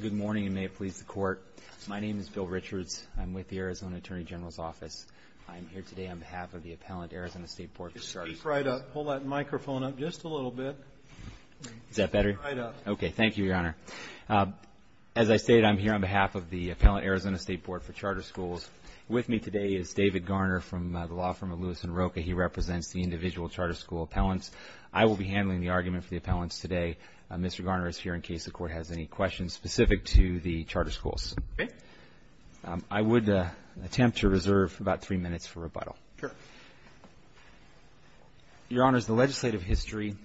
Good morning, and may it please the Court. My name is Bill Richards. I'm with the Arizona Attorney General's Office. I'm here today on behalf of the Appellant Arizona State Board for Charter Schools. Speak right up. Hold that microphone up just a little bit. Is that better? Speak right up. Okay. Thank you, Your Honor. As I stated, I'm here on behalf of the Appellant Arizona State Board for Charter Schools. With me today is David Garner from the law firm of Lewis & Rocha. He represents the individual charter school appellants. I will be handling the argument for the appellants today. Mr. Garner is here in case the Court has any questions specific to the charter schools. Okay. I would attempt to reserve about three minutes for rebuttal. Sure. Your Honors, the legislative history,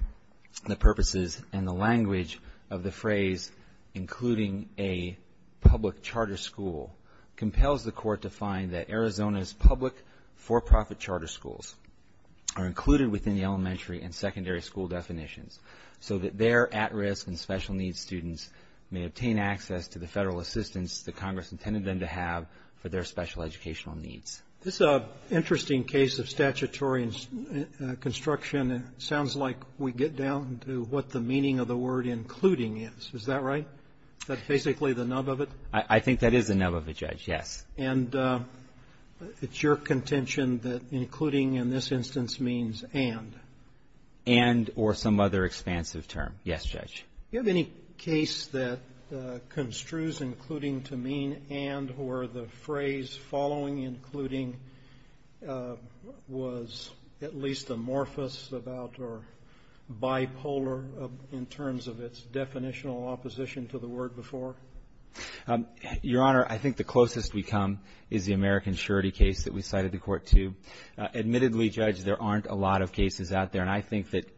the purposes, and the language of the phrase including a public charter school compels the Court to find that Arizona's public for-profit charter schools are included within the elementary and secondary school definitions so that their at-risk and special needs students may obtain access to the federal assistance that Congress intended them to have for their special educational needs. This is an interesting case of statutory construction. It sounds like we get down to what the meaning of the word including is. Is that right? Is that basically the nub of it? I think that is the nub of it, Judge, yes. And it's your contention that including in this instance means and. And or some other expansive term. Yes, Judge. Do you have any case that construes including to mean and or the phrase following including was at least amorphous about or bipolar in terms of its definitional opposition to the word before? Your Honor, I think the closest we come is the American surety case that we cited the Court to. Admittedly, Judge, there aren't a lot of cases out there. And I think that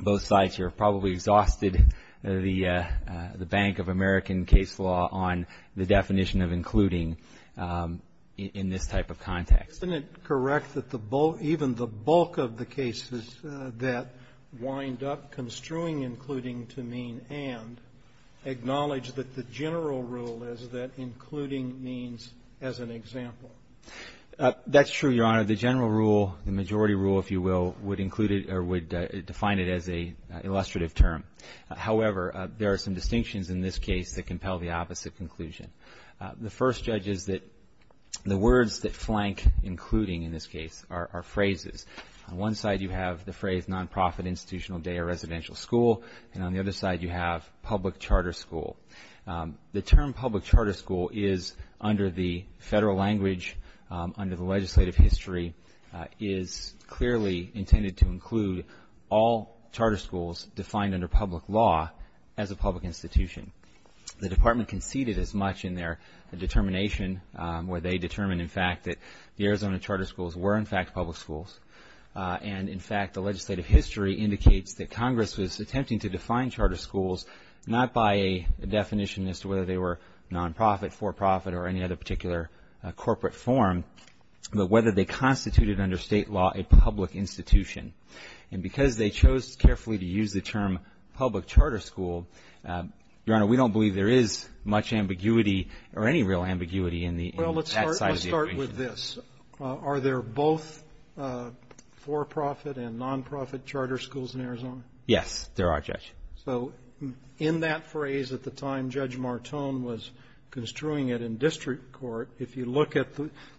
both sides here have probably exhausted the bank of American case law on the definition of including in this type of context. Isn't it correct that even the bulk of the cases that wind up construing including to mean and acknowledge that the general rule is that including means as an example? That's true, Your Honor. The general rule, the majority rule, if you will, would include it or would define it as an illustrative term. However, there are some distinctions in this case that compel the opposite conclusion. The first, Judge, is that the words that flank including in this case are phrases. On one side you have the phrase nonprofit institutional day or residential school. And on the other side you have public charter school. The term public charter school is under the federal language, under the legislative history, is clearly intended to include all charter schools defined under public law as a public institution. The Department conceded as much in their determination where they determined, in fact, that the Arizona charter schools were, in fact, public schools. And, in fact, the legislative history indicates that Congress was attempting to define charter schools not by a definition as to whether they were nonprofit, for-profit, or any other particular corporate form, but whether they constituted under state law a public institution. And because they chose carefully to use the term public charter school, Your Honor, we don't believe there is much ambiguity or any real ambiguity in that size of the equation. Well, let's start with this. Are there both for-profit and nonprofit charter schools in Arizona? Yes, there are, Judge. So in that phrase at the time Judge Martone was construing it in district court, if you look at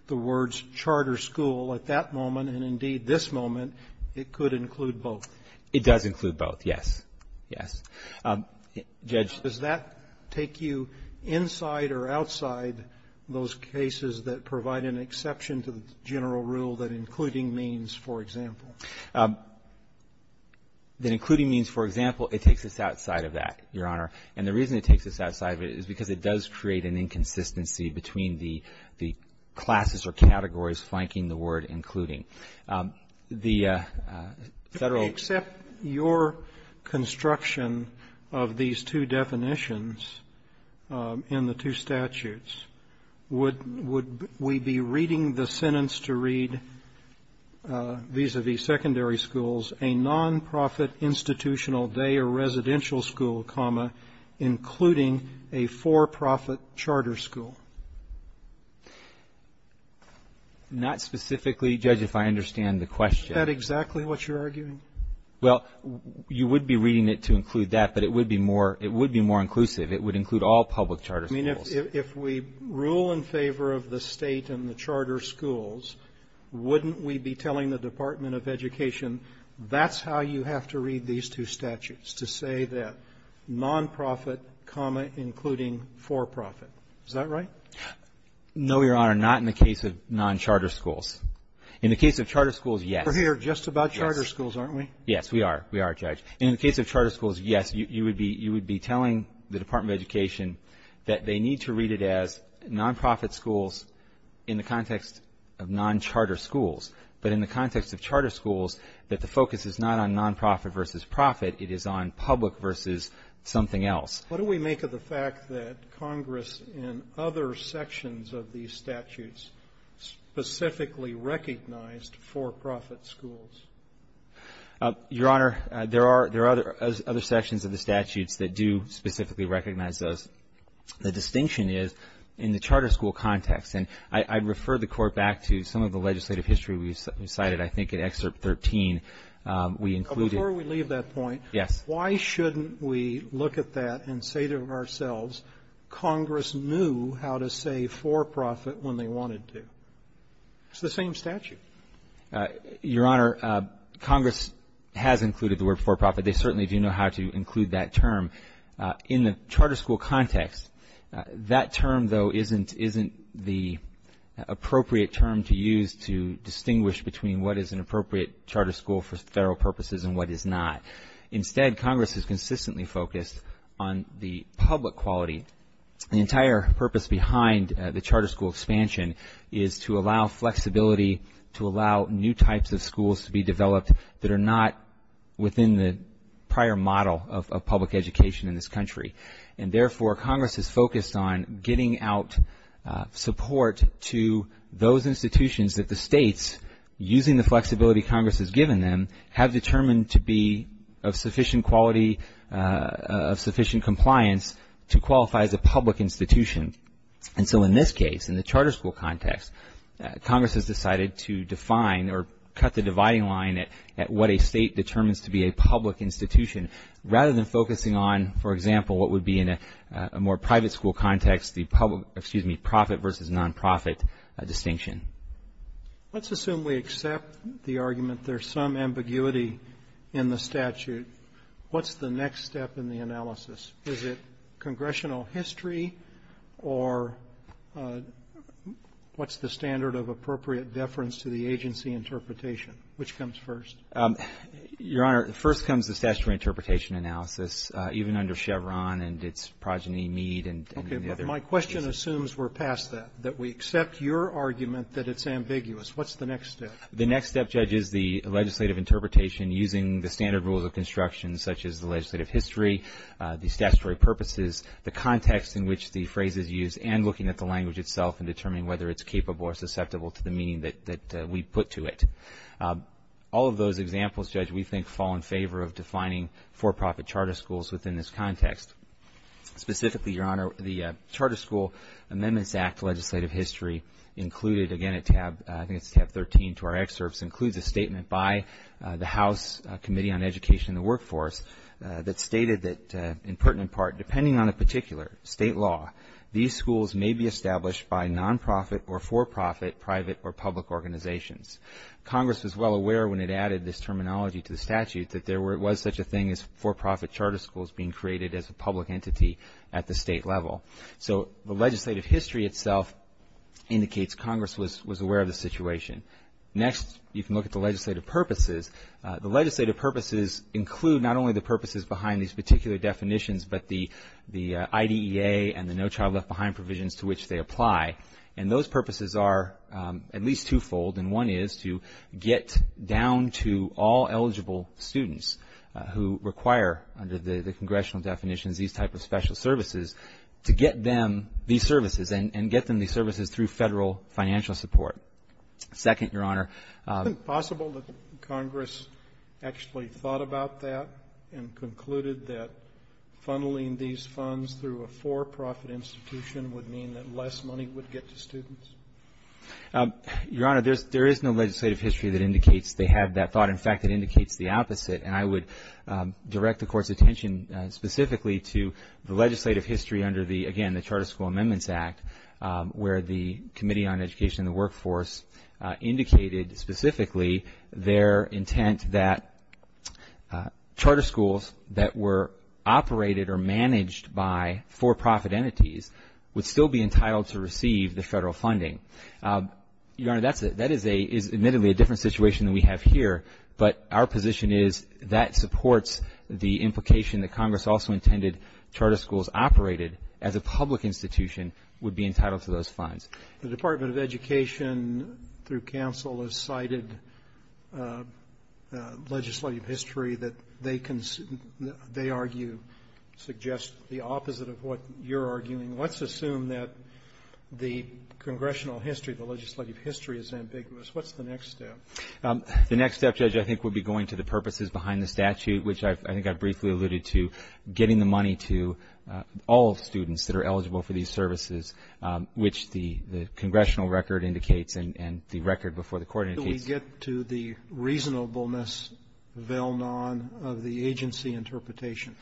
the words charter school at that moment and, indeed, this moment, it could include both. It does include both, yes. Yes. Judge. Does that take you inside or outside those cases that provide an exception to the general rule that including means, for example? That including means, for example, it takes us outside of that, Your Honor. And the reason it takes us outside of it is because it does create an inconsistency between the classes or categories flanking the word including. The Federal ---- If we accept your construction of these two definitions in the two statutes, would we be reading the sentence to read vis-a-vis secondary schools, a nonprofit institutional day or residential school, including a for-profit charter school? Not specifically, Judge, if I understand the question. Is that exactly what you're arguing? Well, you would be reading it to include that, but it would be more inclusive. It would include all public charter schools. I mean, if we rule in favor of the State and the charter schools, wouldn't we be telling the Department of Education, that's how you have to read these two statutes, to say that nonprofit, including for-profit. Is that right? No, Your Honor, not in the case of noncharter schools. In the case of charter schools, yes. We're here just about charter schools, aren't we? Yes, we are. We are, Judge. In the case of charter schools, yes. You would be telling the Department of Education that they need to read it as nonprofit schools in the context of noncharter schools, but in the context of charter schools, that the focus is not on nonprofit versus profit. It is on public versus something else. What do we make of the fact that Congress in other sections of these statutes specifically recognized for-profit schools? Your Honor, there are other sections of the statutes that do specifically recognize those. The distinction is in the charter school context. And I'd refer the Court back to some of the legislative history we cited, I think, in Excerpt 13. We included Before we leave that point. Yes. Why shouldn't we look at that and say to ourselves, Congress knew how to say for-profit when they wanted to? It's the same statute. Your Honor, Congress has included the word for-profit. They certainly do know how to include that term. In the charter school context, that term, though, isn't the appropriate term to use to distinguish between what is an appropriate charter school for federal purposes and what is not. Instead, Congress has consistently focused on the public quality. The entire purpose behind the charter school expansion is to allow flexibility, to allow new types of schools to be developed that are not within the prior model of public education in this country. And therefore, Congress has focused on getting out support to those institutions that the states, using the flexibility Congress has given them, have determined to be of sufficient quality, of sufficient compliance, to qualify as a public institution. And so in this case, in the charter school context, Congress has decided to define or cut the dividing line at what a state determines to be a public institution rather than focusing on, for example, what would be in a more private school context, the public, excuse me, profit versus non-profit distinction. Let's assume we accept the argument there's some ambiguity in the statute. What's the next step in the analysis? Is it congressional history or what's the standard of appropriate deference to the agency interpretation? Which comes first? Your Honor, first comes the statutory interpretation analysis, even under Chevron and its progeny, Mead, and the other cases. Let's assume we're past that, that we accept your argument that it's ambiguous. What's the next step? The next step, Judge, is the legislative interpretation using the standard rules of construction such as the legislative history, the statutory purposes, the context in which the phrase is used, and looking at the language itself and determining whether it's capable or susceptible to the meaning that we put to it. All of those examples, Judge, we think fall in favor of defining for-profit charter schools within this context. Specifically, Your Honor, the Charter School Amendments Act legislative history included, again, I think it's tab 13 to our excerpts, includes a statement by the House Committee on Education and the Workforce that stated that, in pertinent part, depending on a particular state law, these schools may be established by non-profit or for-profit private or public organizations. Congress was well aware when it added this terminology to the statute that there was such a thing as for-profit charter schools being created as a public entity at the state level. So the legislative history itself indicates Congress was aware of the situation. Next, you can look at the legislative purposes. The legislative purposes include not only the purposes behind these particular definitions, but the IDEA and the No Child Left Behind provisions to which they apply. And those purposes are at least twofold. And one is to get down to all eligible students who require, under the congressional definitions, these type of special services, to get them these services and get them these services through federal financial support. Second, Your Honor. Is it possible that Congress actually thought about that and concluded that funneling these to get to students? Your Honor, there is no legislative history that indicates they had that thought. In fact, it indicates the opposite. And I would direct the Court's attention specifically to the legislative history under the, again, the Charter School Amendments Act where the Committee on Education and the Workforce indicated specifically their intent that charter schools that were operated or managed by for-profit entities would still be entitled to receive the federal funding. Your Honor, that is admittedly a different situation than we have here. But our position is that supports the implication that Congress also intended charter schools operated as a public institution would be entitled to those funds. The Department of Education through counsel has cited legislative history that they argue suggests the Let's assume that the congressional history, the legislative history is ambiguous. What's the next step? The next step, Judge, I think would be going to the purposes behind the statute, which I think I briefly alluded to, getting the money to all students that are eligible for these services, which the congressional record indicates and the record before the Court indicates. Do we get to the reasonableness, vel non, of the agency interpretation?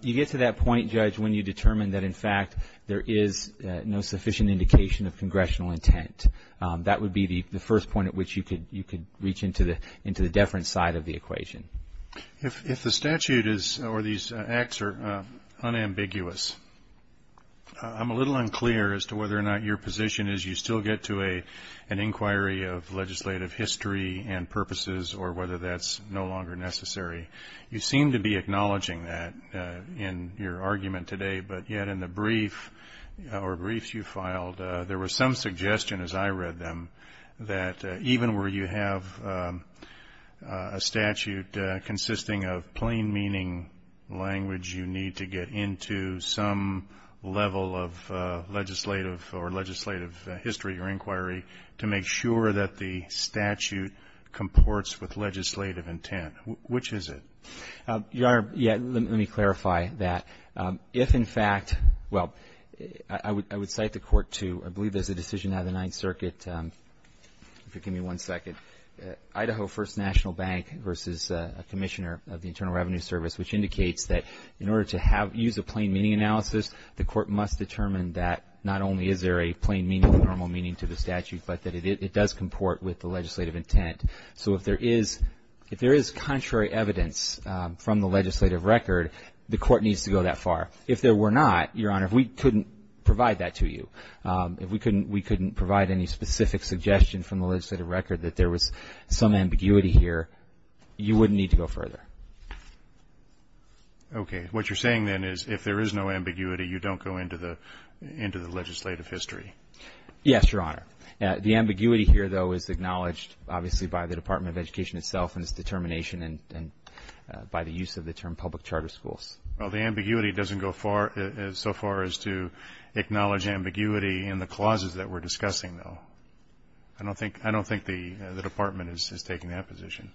You get to that point, Judge, when you determine that, in fact, there is no sufficient indication of congressional intent. That would be the first point at which you could reach into the deference side of the equation. If the statute is or these acts are unambiguous, I'm a little unclear as to whether or not your position is you still get to an inquiry of legislative history and purposes or whether that's no longer necessary. You seem to be acknowledging that in your argument today, but yet in the brief or briefs you filed, there was some suggestion as I read them that even where you have a statute consisting of plain meaning language, you need to get into some level of legislative or legislative history or inquiry to make sure that the statute comports with legislative intent. Which is it? Your Honor, yeah, let me clarify that. If, in fact, well, I would cite the Court to, I believe there's a decision out of the Ninth Circuit, if you'll give me one second, Idaho First National Bank versus a commissioner of the Internal Revenue Service, which indicates that in order to use a plain meaning analysis, the Court must determine that not only is there a plain meaning, normal meaning to the statute, but that it does comport with the legislative intent. So if there is contrary evidence from the legislative record, the Court needs to go that far. If there were not, Your Honor, if we couldn't provide that to you, if we couldn't provide any specific suggestion from the legislative record that there was some ambiguity here, you wouldn't need to go further. Okay. What you're saying then is if there is no ambiguity, you don't go into the legislative history. Yes, Your Honor. The ambiguity here, though, is acknowledged, obviously, by the Department of Education itself and its determination and by the use of the term public charter schools. Well, the ambiguity doesn't go so far as to acknowledge ambiguity in the clauses that we're discussing, though. I don't think the Department is taking that position.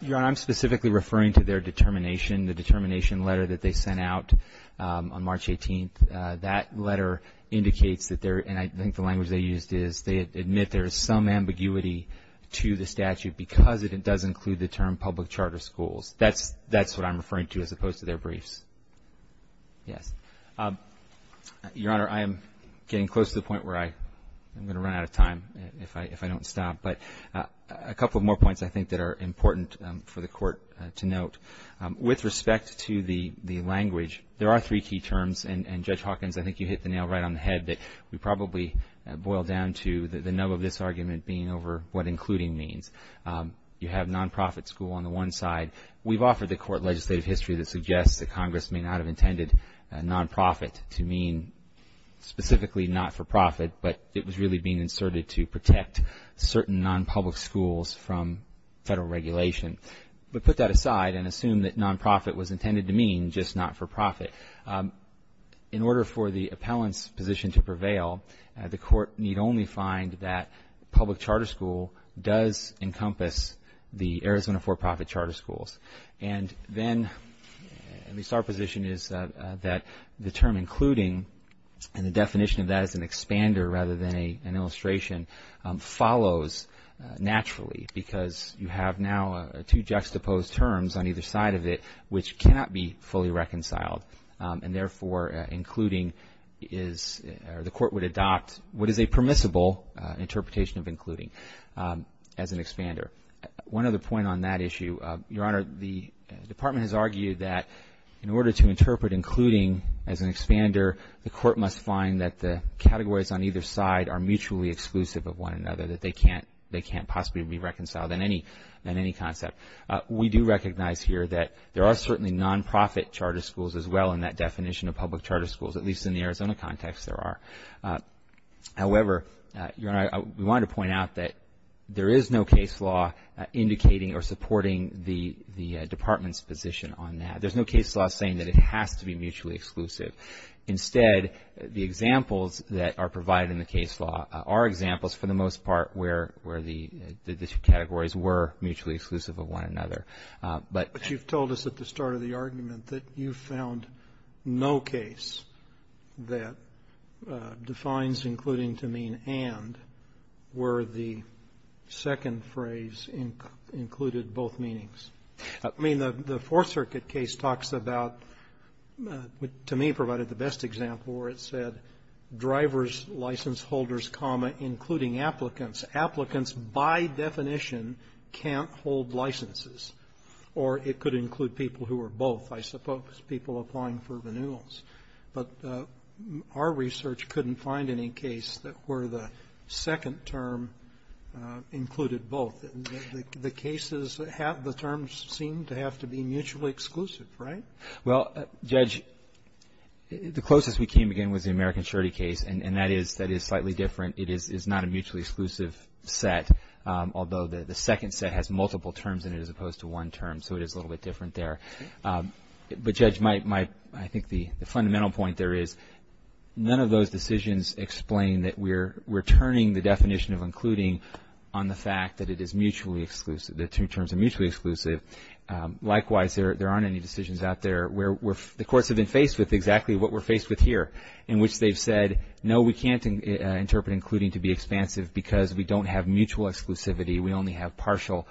Your Honor, I'm specifically referring to their determination, the determination letter that they sent out on March 18th. That letter indicates that there, and I think the language they used is they admit there is some ambiguity to the statute because it does include the term public charter schools. That's what I'm referring to as opposed to their briefs. Yes. Your Honor, I am getting close to the point where I'm going to run out of time if I don't stop. But a couple more points I think that are important for the Court to note. With respect to the language, there are three key terms, and Judge Hawkins, I think you hit the nail right on the head, that we probably boil down to the nub of this argument being over what including means. You have non-profit school on the one side. We've offered the Court legislative history that suggests that Congress may not have intended non-profit to mean specifically not-for-profit, but it was really being inserted to protect certain non-public schools from federal regulation. But put that aside and assume that non-profit was intended to mean just not-for-profit. In order for the appellant's position to prevail, the Court need only find that public charter school does encompass the Arizona for-profit charter schools. And then, at least our position is that the term including and the definition of that as an expander rather than an illustration follows naturally because you have now two juxtaposed terms on either side of it which cannot be fully reconciled. And therefore, including is, or the Court would adopt what is a permissible interpretation of including as an expander. One other point on that issue. Your Honor, the Department has argued that in order to interpret including as an expander, the Court must find that the categories on either side are mutually exclusive of one another, that they can't possibly be reconciled in any concept. We do recognize here that there are certainly non-profit charter schools as well in that definition of public charter schools, at least in the Arizona context there are. However, Your Honor, we wanted to point out that there is no case law indicating or supporting the Department's position on that. There's no case law saying that it has to be mutually exclusive. Instead, the examples that are provided in the case law are examples, for the most part, where the two categories were mutually exclusive of one another. But you've told us at the start of the argument that you found no case that defines including to mean and where the second phrase included both meanings. I mean, the Fourth Circuit case talks about what to me provided the best example where it said drivers, license holders, comma, including applicants. Applicants, by definition, can't hold licenses. Or it could include people who are both, I suppose, people applying for renewals. But our research couldn't find any case where the second term included both. The cases have the terms seem to have to be mutually exclusive, right? Well, Judge, the closest we came, again, was the American surety case. And that is slightly different. It is not a mutually exclusive set, although the second set has multiple terms in it as opposed to one term. So it is a little bit different there. But, Judge, I think the fundamental point there is none of those decisions explain that we're turning the definition of including on the fact that it is mutually exclusive, the two terms are mutually exclusive. Likewise, there aren't any decisions out there where the courts have been faced with exactly what we're faced with here, in which they've said, no, we can't interpret including to be expansive because we don't have mutual exclusivity. We only have partial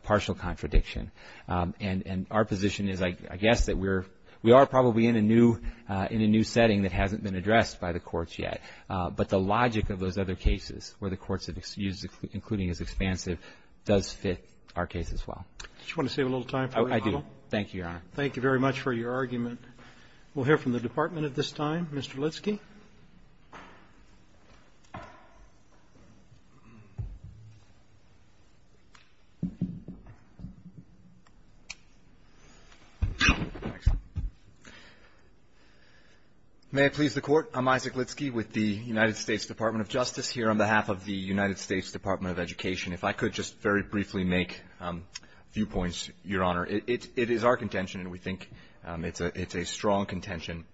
contradiction. And our position is, I guess, that we are probably in a new setting that hasn't been addressed by the courts yet. But the logic of those other cases where the courts have used including as expansive does fit our case as well. Do you want to save a little time for me? I do. Thank you, Your Honor. Thank you very much for your argument. We'll hear from the Department at this time. Mr. Litsky. May it please the Court. I'm Isaac Litsky with the United States Department of Justice here on behalf of the United States Department of Education. If I could just very briefly make a few points, Your Honor. It is our contention, and we think it's a strong contention,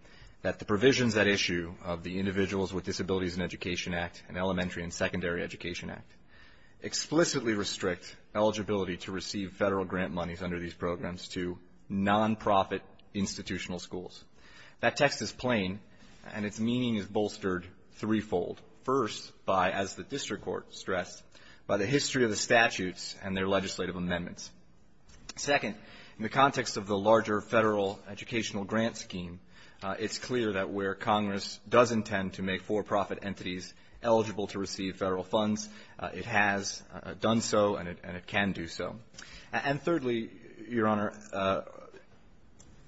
that the provisions at issue of the Individuals with Disabilities in Education Act and Elementary and Secondary Education Act explicitly restrict eligibility to receive federal grant monies under these programs to nonprofit institutional schools. That text is plain, and its meaning is bolstered threefold. First, by, as the district court stressed, by the history of the statutes and their legislative amendments. Second, in the context of the larger federal educational grant scheme, it's clear that where Congress does intend to make for-profit entities eligible to receive federal funds, it has done so and it can do so. And thirdly, Your Honor,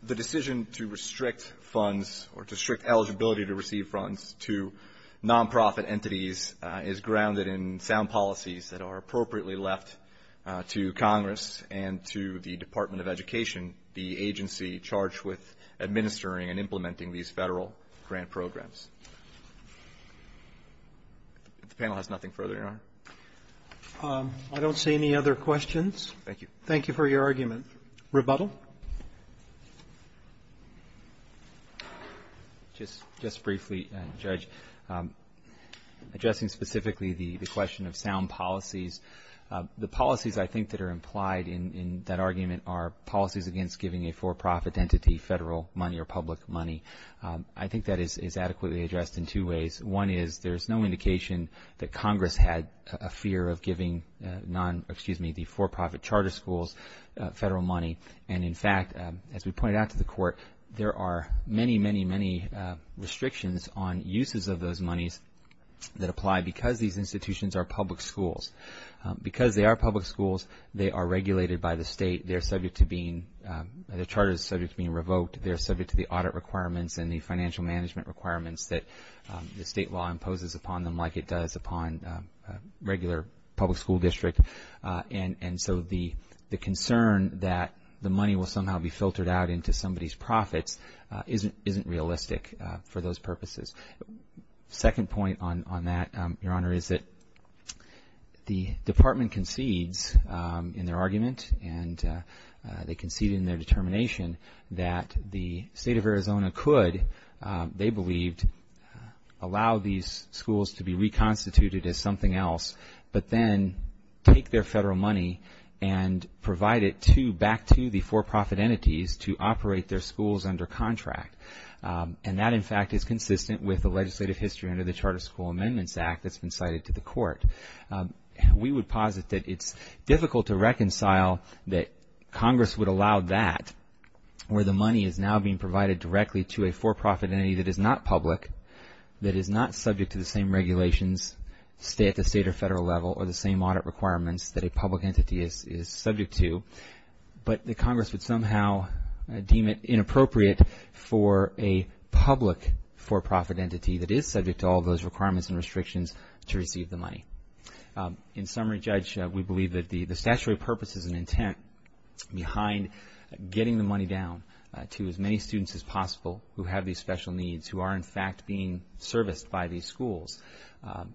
the decision to restrict funds or to restrict eligibility to receive funds to nonprofit entities is grounded in sound policies that are appropriately left to Congress and to the Department of Education, the agency charged with administering and implementing these federal grant programs. The panel has nothing further, Your Honor. I don't see any other questions. Thank you. Thank you for your argument. Rebuttal. Just briefly, Judge, addressing specifically the question of sound policies, the policies I think that are implied in that argument are policies against giving a for-profit entity federal money or public money. I think that is adequately addressed in two ways. One is there's no indication that Congress had a fear of giving the for-profit charter schools federal money. And in fact, as we pointed out to the Court, there are many, many, many restrictions on uses of those monies that apply because these institutions are public schools. Because they are public schools, they are regulated by the state. They're subject to being, the charter is subject to being revoked. They're subject to the audit requirements and the financial management requirements that the state law imposes upon them like it does upon a regular public school district. And so the concern that the money will somehow be filtered out into somebody's profits isn't realistic for those purposes. Second point on that, Your Honor, is that the department concedes in their argument and they concede in their determination that the state of Arizona could, they believed, allow these schools to be reconstituted as something else but then take their federal money and provide it back to the for-profit entities to operate their schools under contract. And that, in fact, is consistent with the legislative history under the Charter School Amendments Act that's been cited to the Court. We would posit that it's difficult to reconcile that Congress would allow that where the money is now being provided directly to a for-profit entity that is not public, that is not subject to the same regulations at the state or federal level or the same audit requirements that a public entity is subject to. But the Congress would somehow deem it inappropriate for a public for-profit entity that is subject to all those requirements and restrictions to receive the money. In summary, Judge, we believe that the statutory purpose is an intent behind getting the money down to as many students as possible who have these special needs, who are, in fact, being serviced by these schools.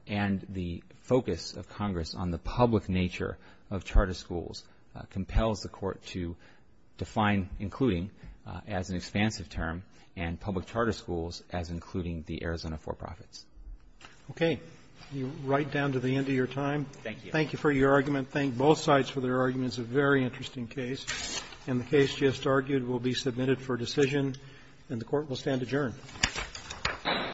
And the focus of Congress on the public nature of charter schools compels the Court to define including as an expansive term and public charter schools as including the Arizona for-profits. Okay. Right down to the end of your time. Thank you. Thank you for your argument. Thank both sides for their arguments. A very interesting case. And the case just argued will be submitted for decision. And the Court will stand adjourned.